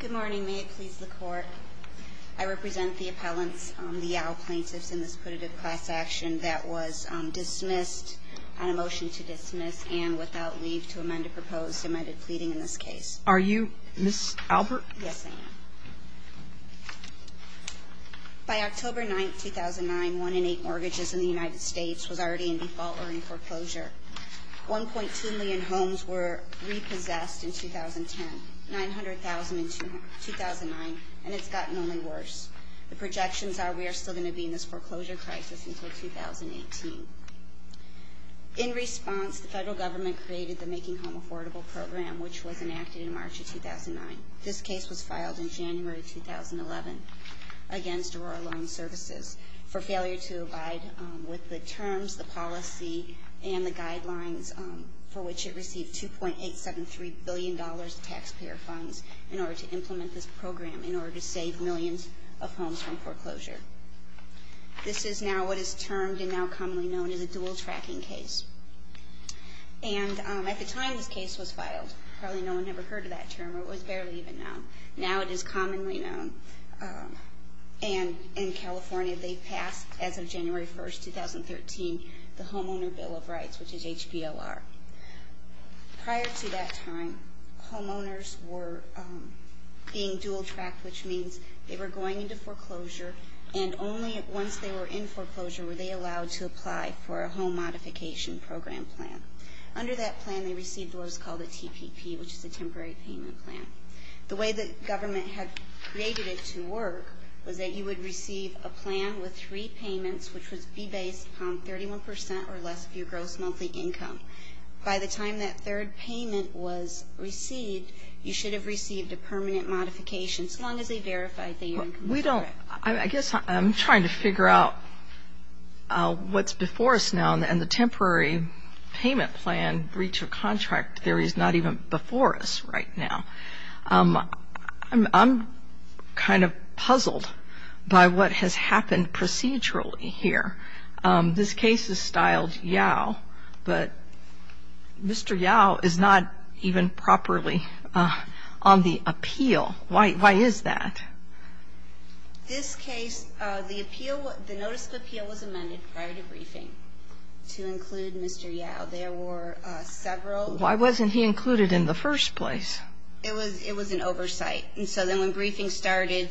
Good morning, may it please the court. I represent the appellants, the Yau plaintiffs in this putative class action that was dismissed, on a motion to dismiss and without leave to amend a proposed amended pleading in this case. Are you Ms. Albert? Yes, ma'am. By October 9, 2009, one in eight mortgages in the United States was already in default or in foreclosure. 1.2 million homes were repossessed in 2010, 900,000 in 2009, and it's gotten only worse. The projections are we are still going to be in this foreclosure crisis until 2018. In response, the federal government created the Making Home Affordable Program, which was enacted in March of 2009. This case was filed in January of 2011 against Aurora Loan Services for failure to abide with the terms, the policy, and the guidelines for which it received $2.873 billion in taxpayer funds in order to implement this program, in order to save millions of homes from foreclosure. This is now what is termed and now commonly known as a dual tracking case. And at the time this case was filed, probably no one ever heard of that term, or it was barely even known. Now it is commonly known, and in California they passed, as of January 1, 2013, the Homeowner Bill of Rights, which is HPLR. Prior to that time, homeowners were being dual tracked, which means they were going into foreclosure, and only once they were in foreclosure were they allowed to apply for a home modification program plan. Under that plan they received what was called a TPP, which is a temporary payment plan. The way the government had created it to work was that you would receive a plan with three payments, which would be based on 31 percent or less of your gross monthly income. By the time that third payment was received, you should have received a permanent modification, so long as they verified that your income was correct. I guess I'm trying to figure out what's before us now, and the temporary payment plan breach of contract theory is not even before us right now. I'm kind of puzzled by what has happened procedurally here. This case is styled YOW, but Mr. YOW is not even properly on the appeal. Why is that? This case, the appeal, the notice of appeal was amended prior to briefing to include Mr. YOW. There were several... Why wasn't he included in the first place? It was an oversight, and so then when briefing started...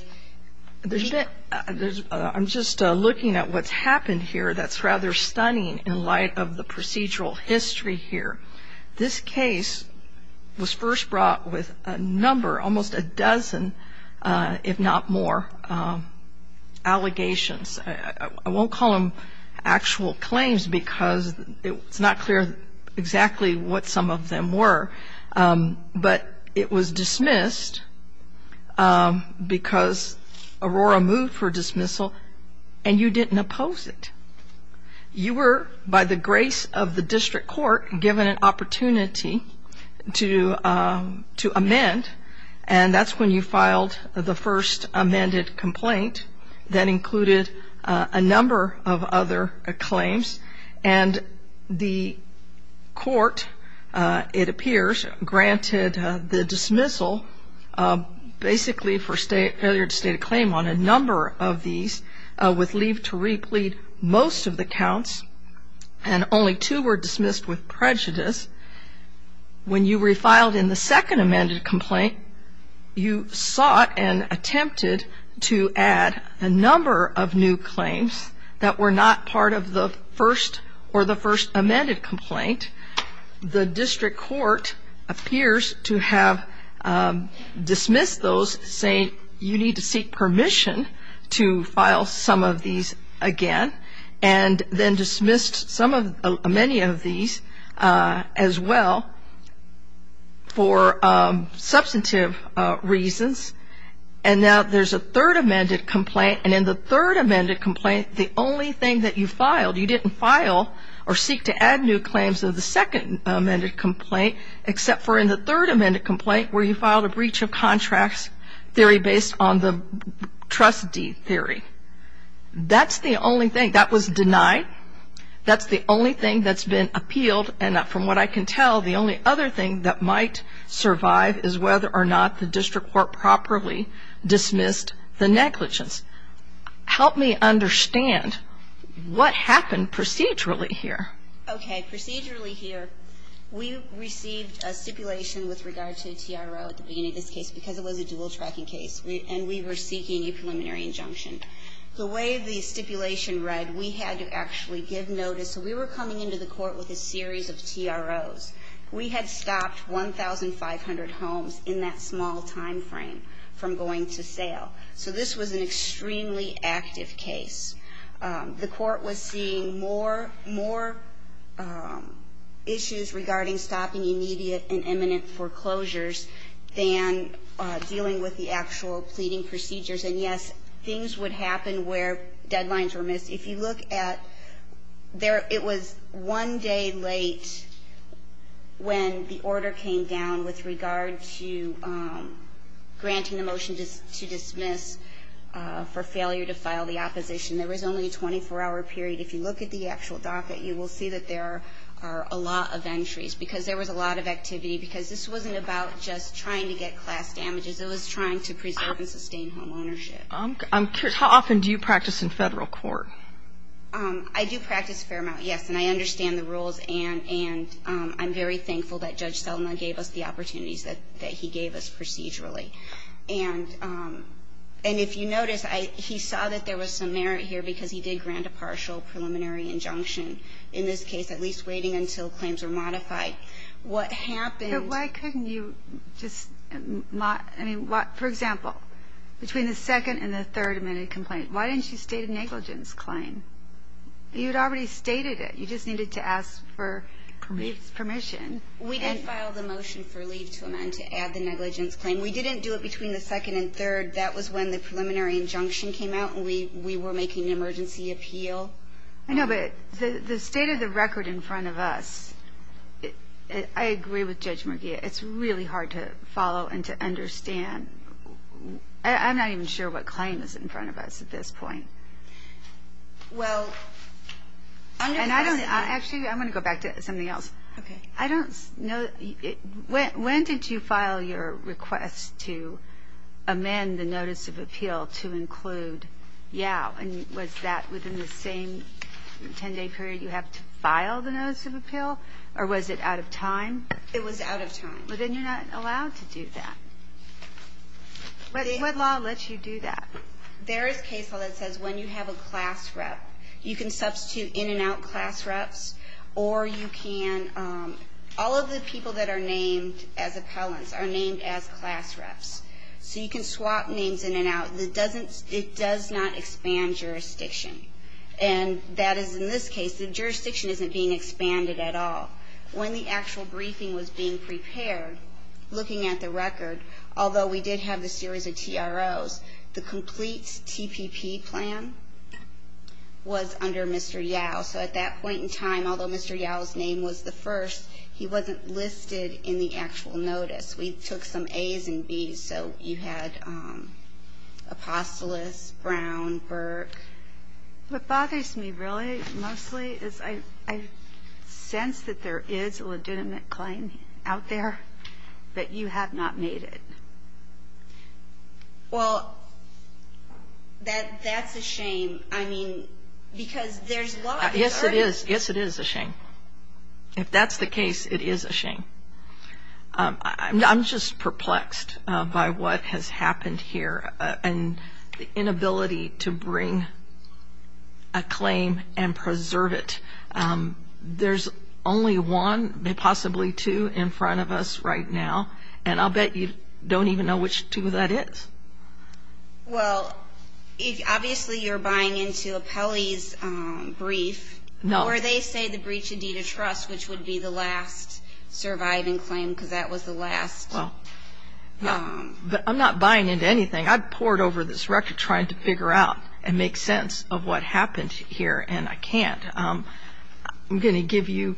I'm just looking at what's happened here that's rather stunning in light of the procedural history here. This case was first brought with a number, almost a dozen, if not more, allegations. I won't call them actual claims because it's not clear exactly what some of them were, but it was dismissed because Aurora moved for dismissal, and you didn't oppose it. You were, by the grace of the district court, given an opportunity to amend, and that's when you filed the first amended complaint that included a number of other claims, and the court, it appears, granted the dismissal basically for failure to state a claim on a number of these, with leave to replete most of the counts, and only two were dismissed with prejudice. When you refiled in the second amended complaint, you sought and attempted to add a number of new claims that were not part of the first or the first amended complaint. The district court appears to have dismissed those, saying you need to seek permission to file some of these again, and then dismissed many of these as well for substantive reasons, and now there's a third amended complaint, and in the third amended complaint, the only thing that you filed, you didn't file or seek to add new claims of the second amended complaint, except for in the third amended complaint where you filed a breach of contracts theory based on the trustee theory. That's the only thing. That was denied. That's the only thing that's been appealed, and from what I can tell, the only other thing that might survive is whether or not the district court properly dismissed the negligence. Help me understand what happened procedurally here. Okay. Procedurally here, we received a stipulation with regard to TRO at the beginning of this case because it was a dual tracking case, and we were seeking a preliminary injunction. The way the stipulation read, we had to actually give notice. So we were coming into the court with a series of TROs. We had stopped 1,500 homes in that small timeframe from going to sale. So this was an extremely active case. The court was seeing more issues regarding stopping immediate and imminent foreclosures than dealing with the actual pleading procedures, and, yes, things would happen where deadlines were missed. If you look at there, it was one day late when the order came down with regard to granting the motion to dismiss for failure to file the opposition. There was only a 24-hour period. If you look at the actual docket, you will see that there are a lot of entries because there was a lot of activity, because this wasn't about just trying to get class damages. It was trying to preserve and sustain home ownership. I'm curious. How often do you practice in Federal court? I do practice a fair amount, yes. And I understand the rules, and I'm very thankful that Judge Selma gave us the opportunities that he gave us procedurally. And if you notice, he saw that there was some merit here because he did grant a partial preliminary injunction in this case, at least waiting until claims were modified. What happened was that there was a lot of activity. Why didn't you state a negligence claim? You had already stated it. You just needed to ask for permission. We didn't file the motion for leave to amend to add the negligence claim. We didn't do it between the second and third. That was when the preliminary injunction came out, and we were making an emergency appeal. I know, but the state of the record in front of us, I agree with Judge Murguia. It's really hard to follow and to understand. I'm not even sure what claim is in front of us at this point. Well, I'm going to ask you. Actually, I'm going to go back to something else. Okay. I don't know. When did you file your request to amend the notice of appeal to include YOW? And was that within the same 10-day period you have to file the notice of appeal, or was it out of time? It was out of time. But then you're not allowed to do that. What law lets you do that? There is a case law that says when you have a class rep, you can substitute in and out class reps, or you can all of the people that are named as appellants are named as class reps. So you can swap names in and out. It does not expand jurisdiction. And that is in this case. The jurisdiction isn't being expanded at all. When the actual briefing was being prepared, looking at the record, although we did have the series of TROs, the complete TPP plan was under Mr. YOW. So at that point in time, although Mr. YOW's name was the first, he wasn't listed in the actual notice. We took some A's and B's. So you had Apostolos, Brown, Burke. What bothers me really mostly is I sense that there is a legitimate claim out there, but you have not made it. Well, that's a shame. I mean, because there's law. Yes, it is. Yes, it is a shame. If that's the case, it is a shame. I'm just perplexed by what has happened here and the inability to bring a claim and preserve it. There's only one, possibly two, in front of us right now, and I'll bet you don't even know which two that is. No. Or they say the breach of deed of trust, which would be the last surviving claim, because that was the last. Well, I'm not buying into anything. I've poured over this record trying to figure out and make sense of what happened here, and I can't. I'm going to give you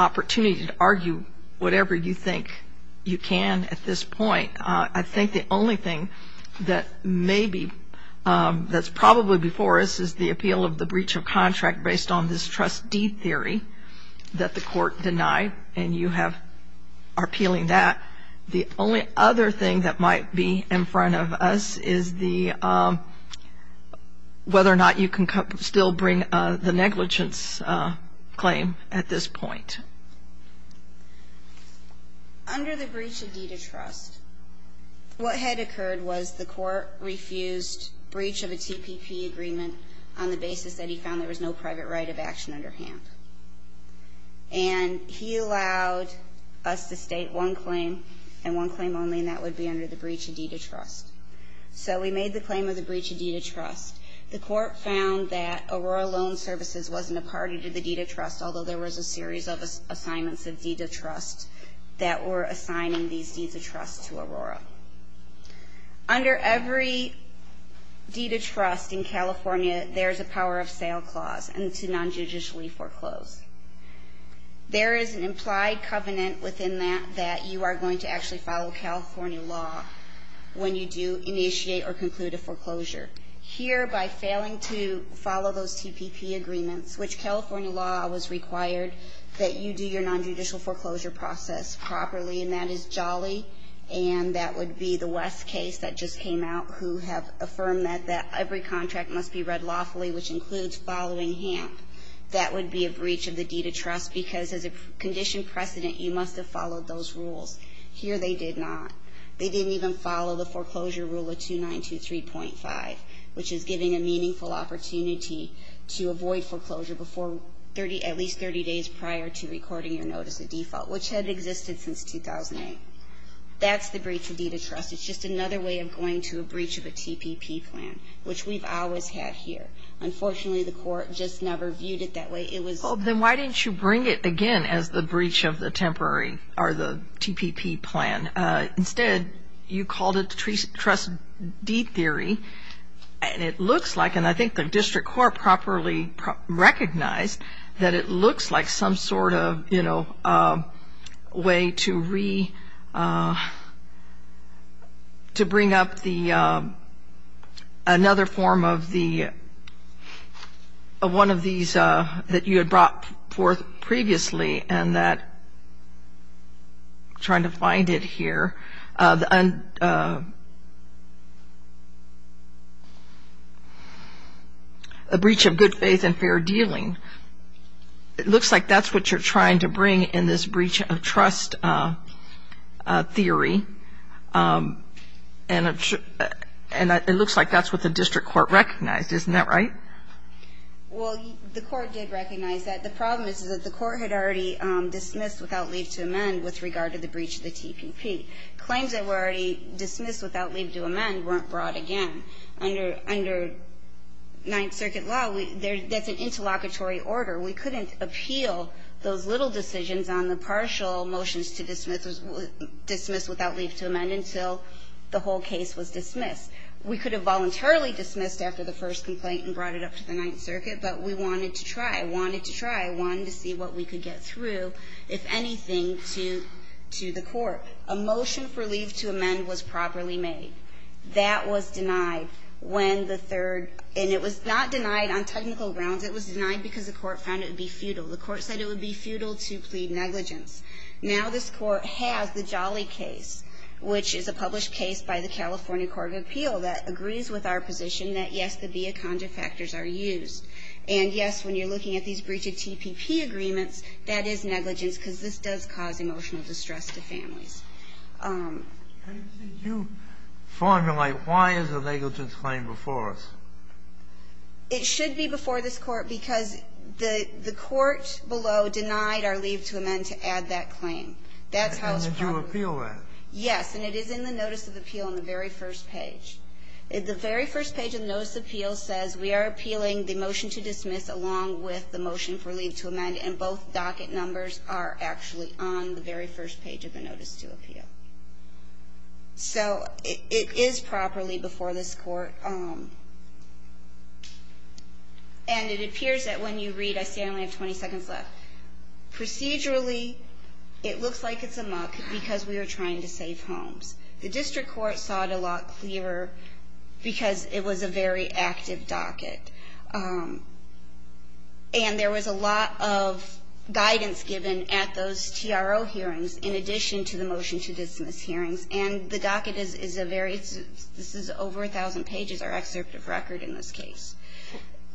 opportunity to argue whatever you think you can at this point. I think the only thing that's probably before us is the appeal of the breach of contract based on this trust deed theory that the court denied, and you are appealing that. The only other thing that might be in front of us is whether or not you can still bring the negligence claim at this point. Under the breach of deed of trust, what had occurred was the court refused breach of a TPP agreement on the basis that he found there was no private right of action under hand, and he allowed us to state one claim and one claim only, and that would be under the breach of deed of trust. So we made the claim of the breach of deed of trust. The court found that Aurora Loan Services wasn't a party to the deed of trust, although there was a series of assignments of deed of trust that were assigning these deeds of trust to Aurora. Under every deed of trust in California, there's a power of sale clause and to non-judicially foreclose. There is an implied covenant within that that you are going to actually follow California law when you do initiate or conclude a foreclosure. Here, by failing to follow those TPP agreements, which California law was required that you do your non-judicial foreclosure process properly, and that is Jolly, and that would be the West case that just came out, who have affirmed that every contract must be read lawfully, which includes following HAMP. That would be a breach of the deed of trust because as a conditioned precedent, you must have followed those rules. Here, they did not. They didn't even follow the foreclosure rule of 2923.5, which is giving a meaningful opportunity to avoid foreclosure at least 30 days prior to recording your notice of default, which had existed since 2008. That's the breach of deed of trust. It's just another way of going to a breach of a TPP plan, which we've always had here. Unfortunately, the court just never viewed it that way. Then why didn't you bring it again as the breach of the TPP plan? Instead, you called it the trust deed theory, and it looks like, and I think the district court properly recognized, that it looks like some sort of way to bring up another form of one of these that you had brought forth previously, and that, I'm trying to find it here, a breach of good faith and fair dealing. It looks like that's what you're trying to bring in this breach of trust theory, and it looks like that's what the district court recognized. Isn't that right? Well, the court did recognize that. The problem is that the court had already dismissed without leave to amend with regard to the breach of the TPP. Claims that were already dismissed without leave to amend weren't brought again. Under Ninth Circuit law, that's an interlocutory order. We couldn't appeal those little decisions on the partial motions to dismiss without leave to amend until the whole case was dismissed. We could have voluntarily dismissed after the first complaint and brought it up to the Ninth Circuit, but we wanted to try. I wanted to try. I wanted to see what we could get through, if anything, to the court. A motion for leave to amend was properly made. That was denied when the third, and it was not denied on technical grounds. It was denied because the court found it would be futile. The court said it would be futile to plead negligence. Now this court has the Jolly case, which is a published case And, yes, when you're looking at these breach of TPP agreements, that is negligence because this does cause emotional distress to families. Kennedy, you formulate why is a negligence claim before us? It should be before this Court because the court below denied our leave to amend to add that claim. That's how it's probably been. And did you appeal that? Yes, and it is in the notice of appeal on the very first page. The very first page of the notice of appeal says we are appealing the motion to dismiss along with the motion for leave to amend. And both docket numbers are actually on the very first page of the notice to appeal. So it is properly before this Court. And it appears that when you read, I see I only have 20 seconds left. Procedurally, it looks like it's a muck because we are trying to save homes. The district court saw it a lot clearer because it was a very active docket. And there was a lot of guidance given at those TRO hearings in addition to the motion to dismiss hearings. And the docket is a very, this is over 1,000 pages, our excerpt of record in this case.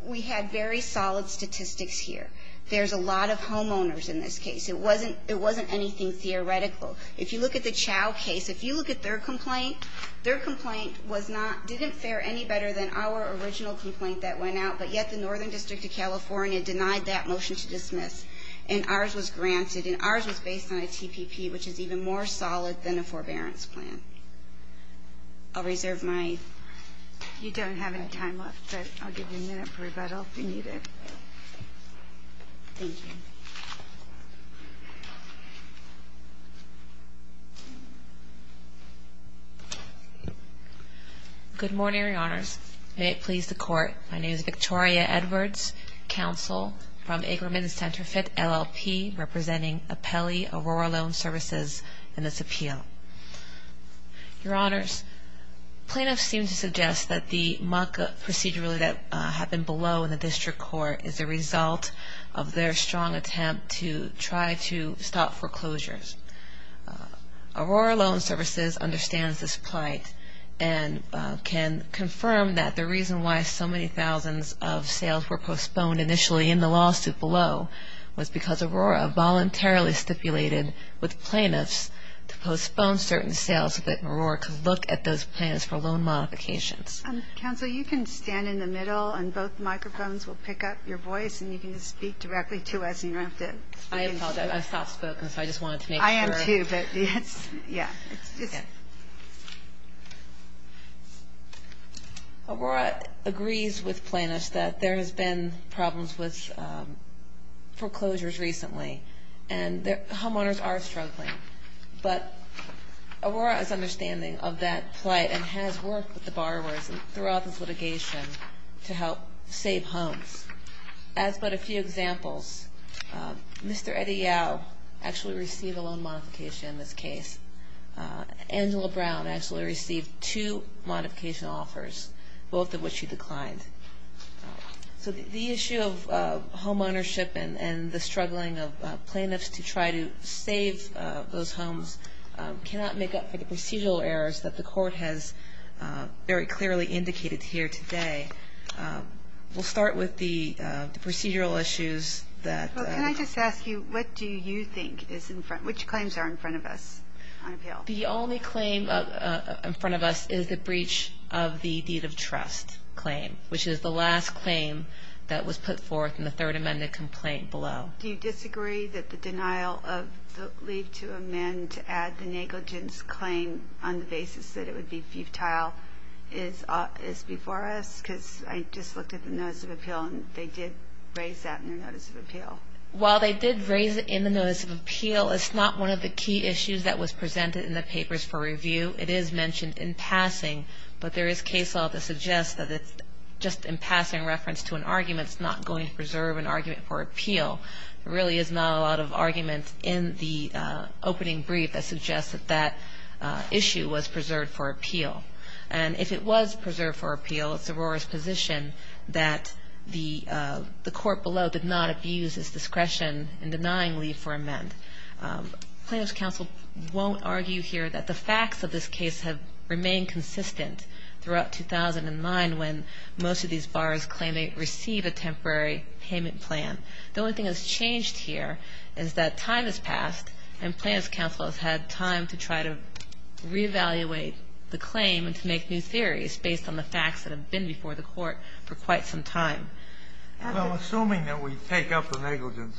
We had very solid statistics here. There's a lot of homeowners in this case. It wasn't anything theoretical. If you look at the Chow case, if you look at their complaint, their complaint was not, didn't fare any better than our original complaint that went out, but yet the Northern District of California denied that motion to dismiss. And ours was granted. And ours was based on a TPP, which is even more solid than a forbearance plan. I'll reserve my. You don't have any time left, but I'll give you a minute for rebuttal if you need it. Thank you. Good morning, Your Honors. May it please the court. My name is Victoria Edwards, counsel from Aikerman Centerfit, LLP, representing Apelli Aurora Loan Services in this appeal. Your Honors, plaintiffs seem to suggest that the mock-up procedurally that happened below in the district court is a result of their strong attempt to try to stop foreclosures. Aurora Loan Services understands this plight and can confirm that the reason why so many thousands of sales were postponed initially in the lawsuit below was because Aurora voluntarily stipulated with plaintiffs to postpone certain sales so that Aurora could look at those plans for loan modifications. Counsel, you can stand in the middle, and both microphones will pick up your voice, and you can just speak directly to us. You don't have to. I apologize. I soft-spoken, so I just wanted to make sure. I am, too, but it's, yeah. Aurora agrees with plaintiffs that there has been problems with foreclosures recently, and homeowners are struggling. But Aurora is understanding of that plight and has worked with the borrowers throughout this litigation to help save homes. As but a few examples, Mr. Eddie Yao actually received a loan modification in this case. Angela Brown actually received two modification offers, both of which she declined. So the issue of homeownership and the struggling of plaintiffs to try to save those homes cannot make up for the procedural errors that the court has very clearly indicated here today. We'll start with the procedural issues that ---- Well, can I just ask you, what do you think is in front, which claims are in front of us on appeal? The only claim in front of us is the breach of the deed of trust claim, which is the last claim that was put forth in the third amended complaint below. Do you disagree that the denial of the leave to amend to add the negligence claim on the basis that it would be futile is before us? Because I just looked at the notice of appeal, and they did raise that in their notice of appeal. While they did raise it in the notice of appeal, it's not one of the key issues that was presented in the papers for review. It is mentioned in passing, but there is case law that suggests that it's just in passing reference to an argument. It's not going to preserve an argument for appeal. There really is not a lot of argument in the opening brief that suggests that that issue was preserved for appeal. And if it was preserved for appeal, it's Aurora's position that the court below did not abuse its discretion in denying leave for amend. Plaintiff's counsel won't argue here that the facts of this case have remained consistent throughout 2009 when most of these bars claim they receive a temporary payment plan. The only thing that's changed here is that time has passed, and plaintiff's counsel has had time to try to reevaluate the claim and to make new theories based on the facts that have been before the court for quite some time. Well, assuming that we take up the negligence,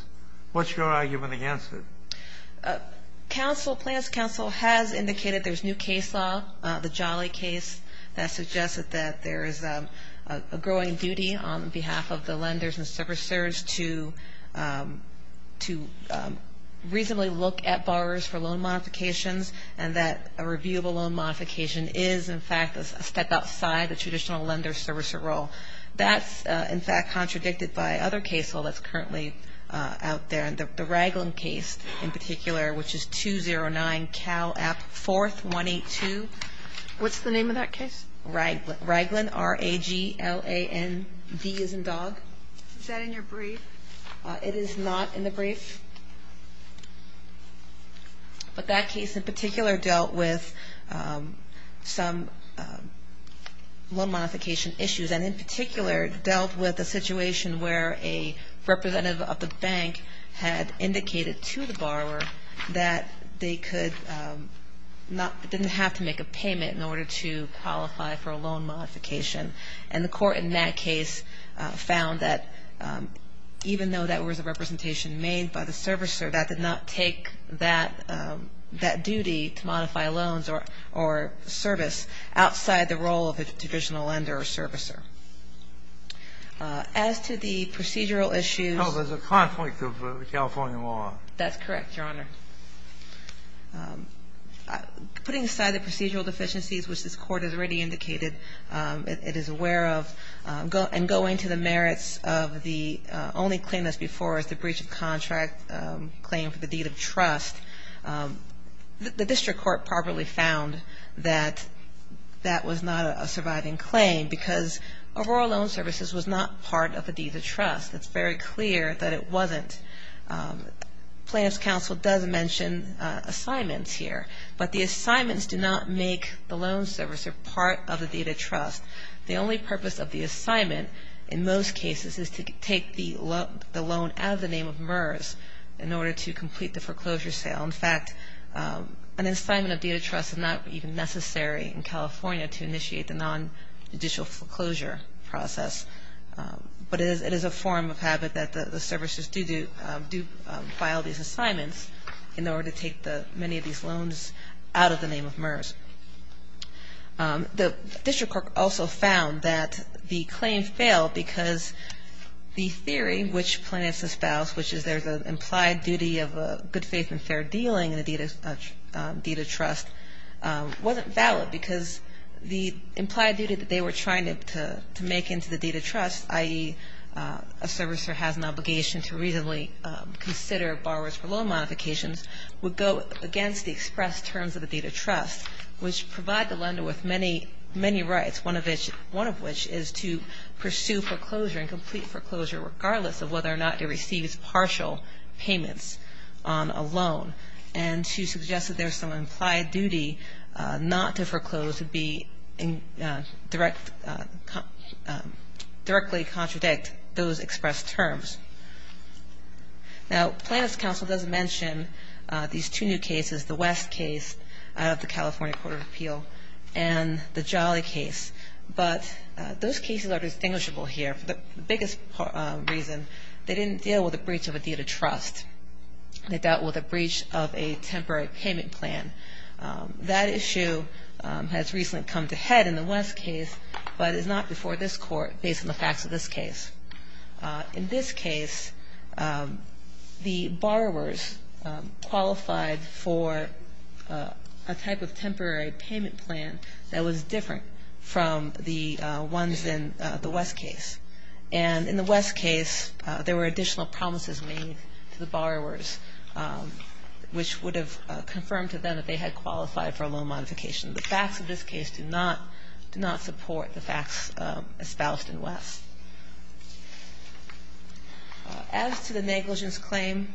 what's your argument against it? Plaintiff's counsel has indicated there's new case law, the Jolly case, that suggests that there is a growing duty on behalf of the lenders and servicers to reasonably look at borrowers for loan modifications and that a reviewable loan modification is, in fact, a step outside the traditional lender-servicer role. That's, in fact, contradicted by other case law that's currently out there. The Raglan case in particular, which is 209 Cal App 4182. What's the name of that case? Raglan, R-A-G-L-A-N-D as in dog. Is that in your brief? It is not in the brief. But that case in particular dealt with some loan modification issues and in particular dealt with a situation where a representative of the bank had indicated to the borrower that they didn't have to make a payment in order to qualify for a loan modification. And the court in that case found that even though that was a representation made by the servicer, that did not take that duty to modify loans or service outside the role of the traditional lender or servicer. As to the procedural issues. Oh, there's a conflict of California law. That's correct, Your Honor. Putting aside the procedural deficiencies, which this court has already indicated it is aware of, and going to the merits of the only claim that's before us, the breach of contract claim for the deed of trust, the district court probably found that that was not a surviving claim because Aurora Loan Services was not part of a deed of trust. It's very clear that it wasn't. Plaintiff's counsel does mention assignments here, but the assignments do not make the loan servicer part of the deed of trust. The only purpose of the assignment in most cases is to take the loan out of the name of MERS in order to complete the foreclosure sale. In fact, an assignment of deed of trust is not even necessary in California to initiate the nonjudicial foreclosure process. But it is a form of habit that the servicers do file these assignments in order to take many of these loans out of the name of MERS. The district court also found that the claim failed because the theory which plaintiffs espouse, which is there's an implied duty of good faith and fair dealing in a deed of trust, wasn't valid because the implied duty that they were trying to make into the deed of trust, i.e., a servicer has an obligation to reasonably consider borrowers for loan modifications, would go against the express terms of the deed of trust. Which provide the lender with many, many rights, one of which is to pursue foreclosure and complete foreclosure regardless of whether or not it receives partial payments on a loan. And to suggest that there's some implied duty not to foreclose would be directly contradict those express terms. Now plaintiff's counsel does mention these two new cases, the West case out of the California Court of Appeal and the Jolly case. But those cases are distinguishable here. The biggest reason, they didn't deal with a breach of a deed of trust. They dealt with a breach of a temporary payment plan. That issue has recently come to head in the West case, but it's not before this court based on the facts of this case. In this case, the borrowers qualified for a type of temporary payment plan that was different from the ones in the West case. And in the West case, there were additional promises made to the borrowers, which would have confirmed to them that they had qualified for a loan modification. The facts of this case do not support the facts espoused in West. As to the negligence claim,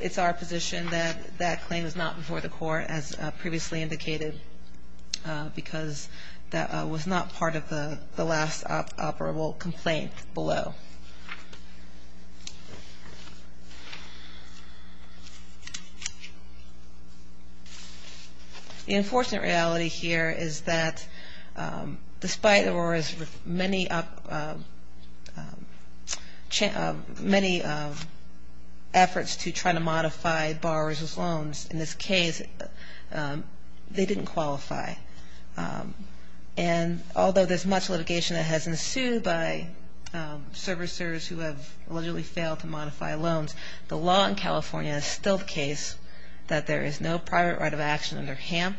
it's our position that that claim is not before the court, as previously indicated, because that was not part of the last operable complaint below. The unfortunate reality here is that despite Aurora's many efforts to try to modify borrowers' loans, in this case, they didn't qualify. And although there's much litigation that has ensued by servicers who have allegedly failed to modify loans, the law in California is still the case that there is no private right of action under HAMP,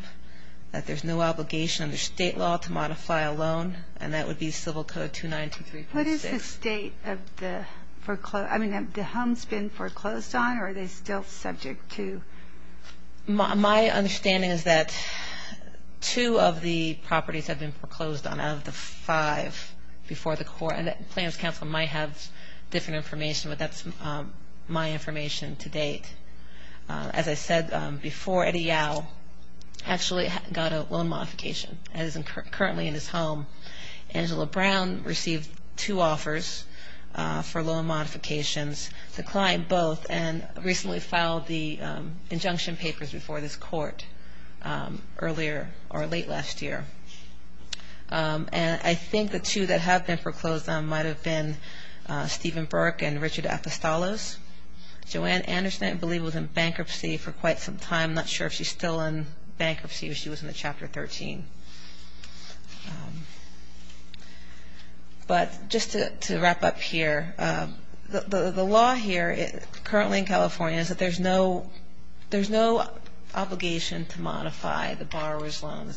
that there's no obligation under state law to modify a loan, and that would be Civil Code 2923.6. What is the state of the home's been foreclosed on, or are they still subject to? My understanding is that two of the properties have been foreclosed on out of the five before the court, and Plans Council might have different information, but that's my information to date. As I said before, Eddie Yao actually got a loan modification, and is currently in his home. Angela Brown received two offers for loan modifications, declined both, and recently filed the injunction papers before this court earlier or late last year. And I think the two that have been foreclosed on might have been Stephen Burke and Richard Apostolos. Joanne Anderson, I believe, was in bankruptcy for quite some time. I'm not sure if she's still in bankruptcy or she was in Chapter 13. But just to wrap up here, the law here currently in California is that there's no obligation to modify the borrower's loan.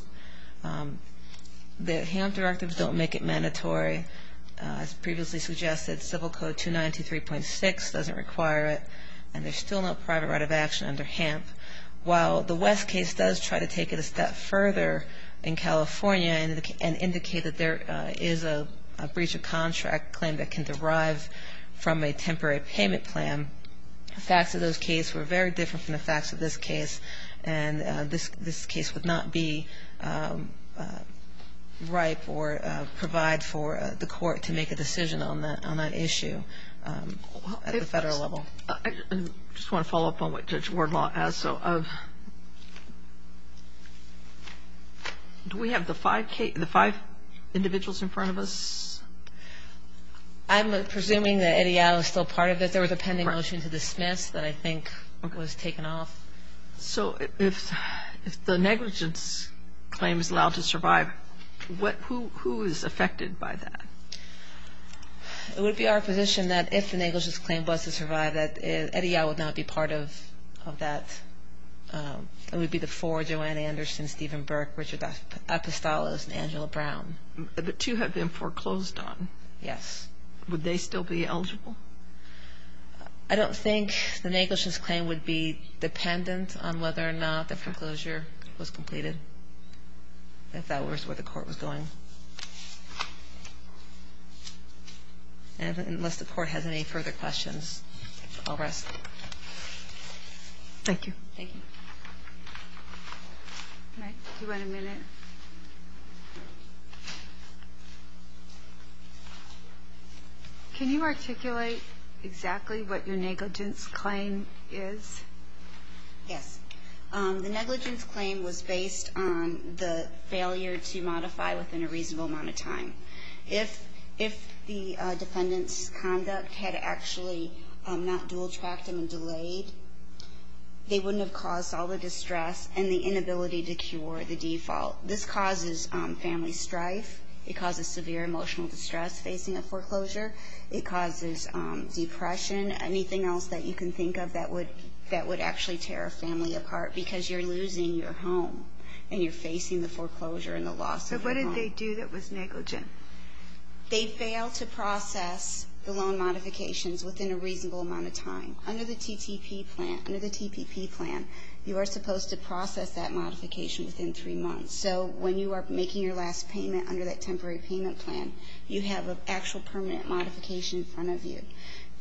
The HAMP directives don't make it mandatory. As previously suggested, Civil Code 2923.6 doesn't require it, and there's still no private right of action under HAMP. While the West case does try to take it a step further in California and indicate that there is a breach of contract claim that can derive from a temporary payment plan, the facts of those cases were very different from the facts of this case, and this case would not be ripe or provide for the court to make a decision on that issue at the federal level. I just want to follow up on what Judge Wardlaw has. Do we have the five individuals in front of us? I'm presuming that Eddie Al is still part of it. There was a pending motion to dismiss that I think was taken off. So if the negligence claim is allowed to survive, who is affected by that? It would be our position that if the negligence claim was to survive, that Eddie Al would not be part of that. It would be the four, Joanna Anderson, Stephen Burke, Richard Apostolos, and Angela Brown. The two have been foreclosed on. Yes. Would they still be eligible? I don't think the negligence claim would be dependent on whether or not the foreclosure was completed, if that was where the court was going. Unless the court has any further questions, I'll rest. Thank you. Thank you. Do you want a minute? Can you articulate exactly what your negligence claim is? Yes. The negligence claim was based on the failure to modify within a reasonable amount of time. If the defendant's conduct had actually not dual-tracted and delayed, they wouldn't have caused all the distress and the inability to cure the default. This causes family strife. It causes severe emotional distress facing a foreclosure. It causes depression. Anything else that you can think of that would actually tear a family apart because you're losing your home and you're facing the foreclosure and the loss of your home. So what did they do that was negligent? They failed to process the loan modifications within a reasonable amount of time. Under the TPP plan, you are supposed to process that modification within three months. So when you are making your last payment under that temporary payment plan, you have an actual permanent modification in front of you.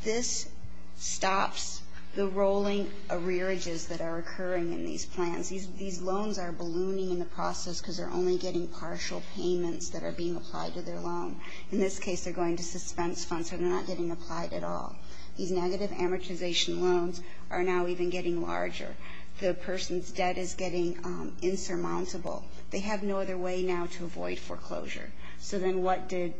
This stops the rolling arrearages that are occurring in these plans. These loans are ballooning in the process because they're only getting partial payments that are being applied to their loan. In this case, they're going to suspense funds, so they're not getting applied at all. These negative amortization loans are now even getting larger. The person's debt is getting insurmountable. They have no other way now to avoid foreclosure. So then what did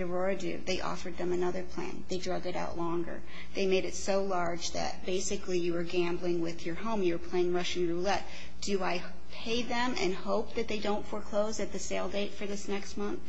Aurora do? They offered them another plan. They drug it out longer. They made it so large that basically you were gambling with your home. You were playing Russian roulette. Do I pay them and hope that they don't foreclose at the sale date for this next month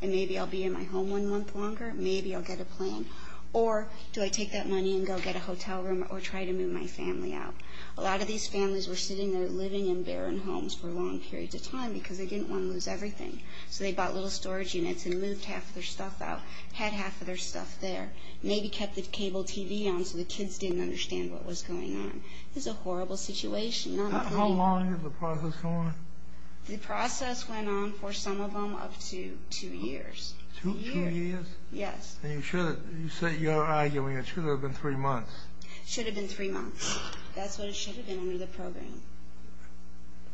and maybe I'll be in my home one month longer? Maybe I'll get a plan. Or do I take that money and go get a hotel room or try to move my family out? A lot of these families were sitting there living in barren homes for a long period of time because they didn't want to lose everything. So they bought little storage units and moved half of their stuff out, had half of their stuff there, maybe kept the cable TV on so the kids didn't understand what was going on. It was a horrible situation. How long did the process go on? The process went on for some of them up to two years. Two years? Yes. You're arguing it should have been three months. It should have been three months. That's what it should have been under the program.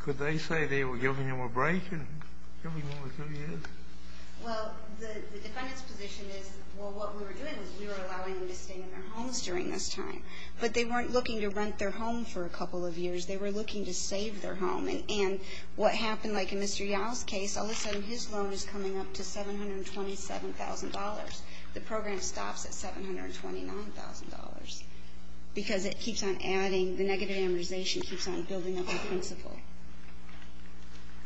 Could they say they were giving them a break and giving them two years? Well, the defendant's position is, well, what we were doing was we were allowing them to stay in their homes during this time. But they weren't looking to rent their home for a couple of years. They were looking to save their home. And what happened, like in Mr. Yao's case, all of a sudden his loan is coming up to $727,000. The program stops at $729,000 because it keeps on adding, the negative amortization keeps on building up the principal.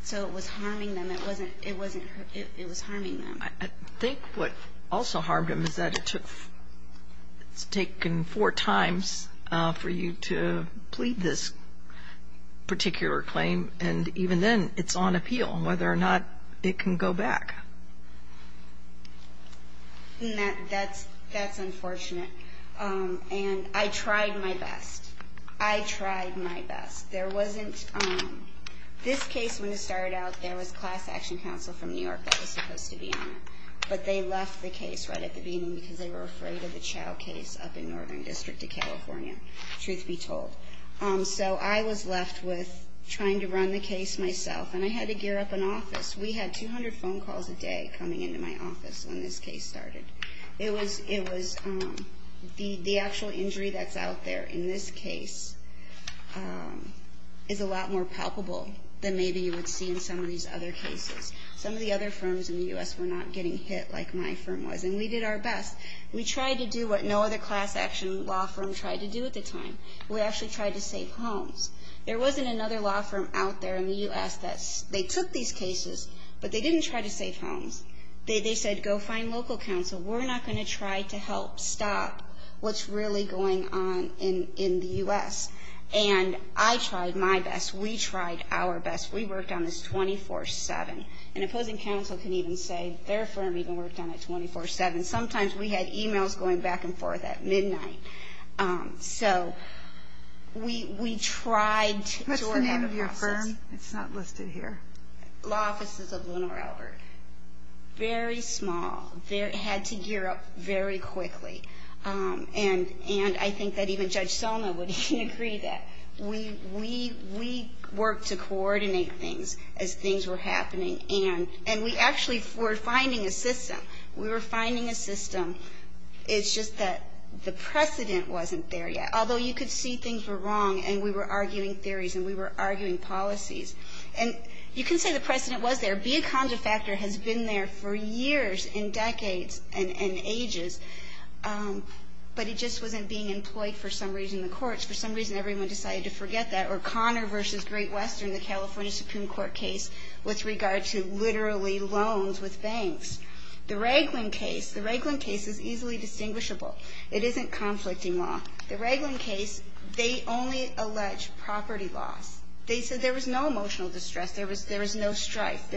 So it was harming them. It was harming them. I think what also harmed them is that it's taken four times for you to plead this particular claim, and even then it's on appeal whether or not it can go back. That's unfortunate. And I tried my best. I tried my best. There wasn't, this case, when it started out, there was class action counsel from New York that was supposed to be on it. But they left the case right at the beginning because they were afraid of the Chao case up in Northern District of California, truth be told. So I was left with trying to run the case myself. And I had to gear up an office. We had 200 phone calls a day coming into my office when this case started. It was, the actual injury that's out there in this case is a lot more palpable than maybe you would see in some of these other cases. Some of the other firms in the U.S. were not getting hit like my firm was, and we did our best. We tried to do what no other class action law firm tried to do at the time. We actually tried to save homes. There wasn't another law firm out there in the U.S. that, they took these cases, but they didn't try to save homes. They said, go find local counsel. We're not going to try to help stop what's really going on in the U.S. And I tried my best. We tried our best. We worked on this 24-7. An opposing counsel can even say their firm even worked on it 24-7. Sometimes we had e-mails going back and forth at midnight. So we tried to work out a process. What's the name of your firm? It's not listed here. Law Offices of Leonore Albert. Very small. They had to gear up very quickly. And I think that even Judge Selma would agree that. We worked to coordinate things as things were happening. And we actually were finding a system. We were finding a system. It's just that the precedent wasn't there yet. Although you could see things were wrong, and we were arguing theories, and we were arguing policies. And you can say the precedent was there. Biaconda Factor has been there for years and decades and ages. But it just wasn't being employed for some reason in the courts. For some reason, everyone decided to forget that. Or Connor v. Great Western, the California Supreme Court case, with regard to literally loans with banks. The Raglan case. The Raglan case is easily distinguishable. It isn't conflicting law. The Raglan case, they only allege property loss. They said there was no emotional distress. There was no strife.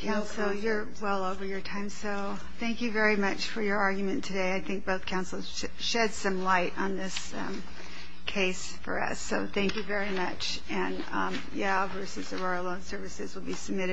Counsel, you're well over your time. So thank you very much for your argument today. I think both counsels shed some light on this case for us. So thank you very much. And yeah, versus Aurora Loan Services will be submitted.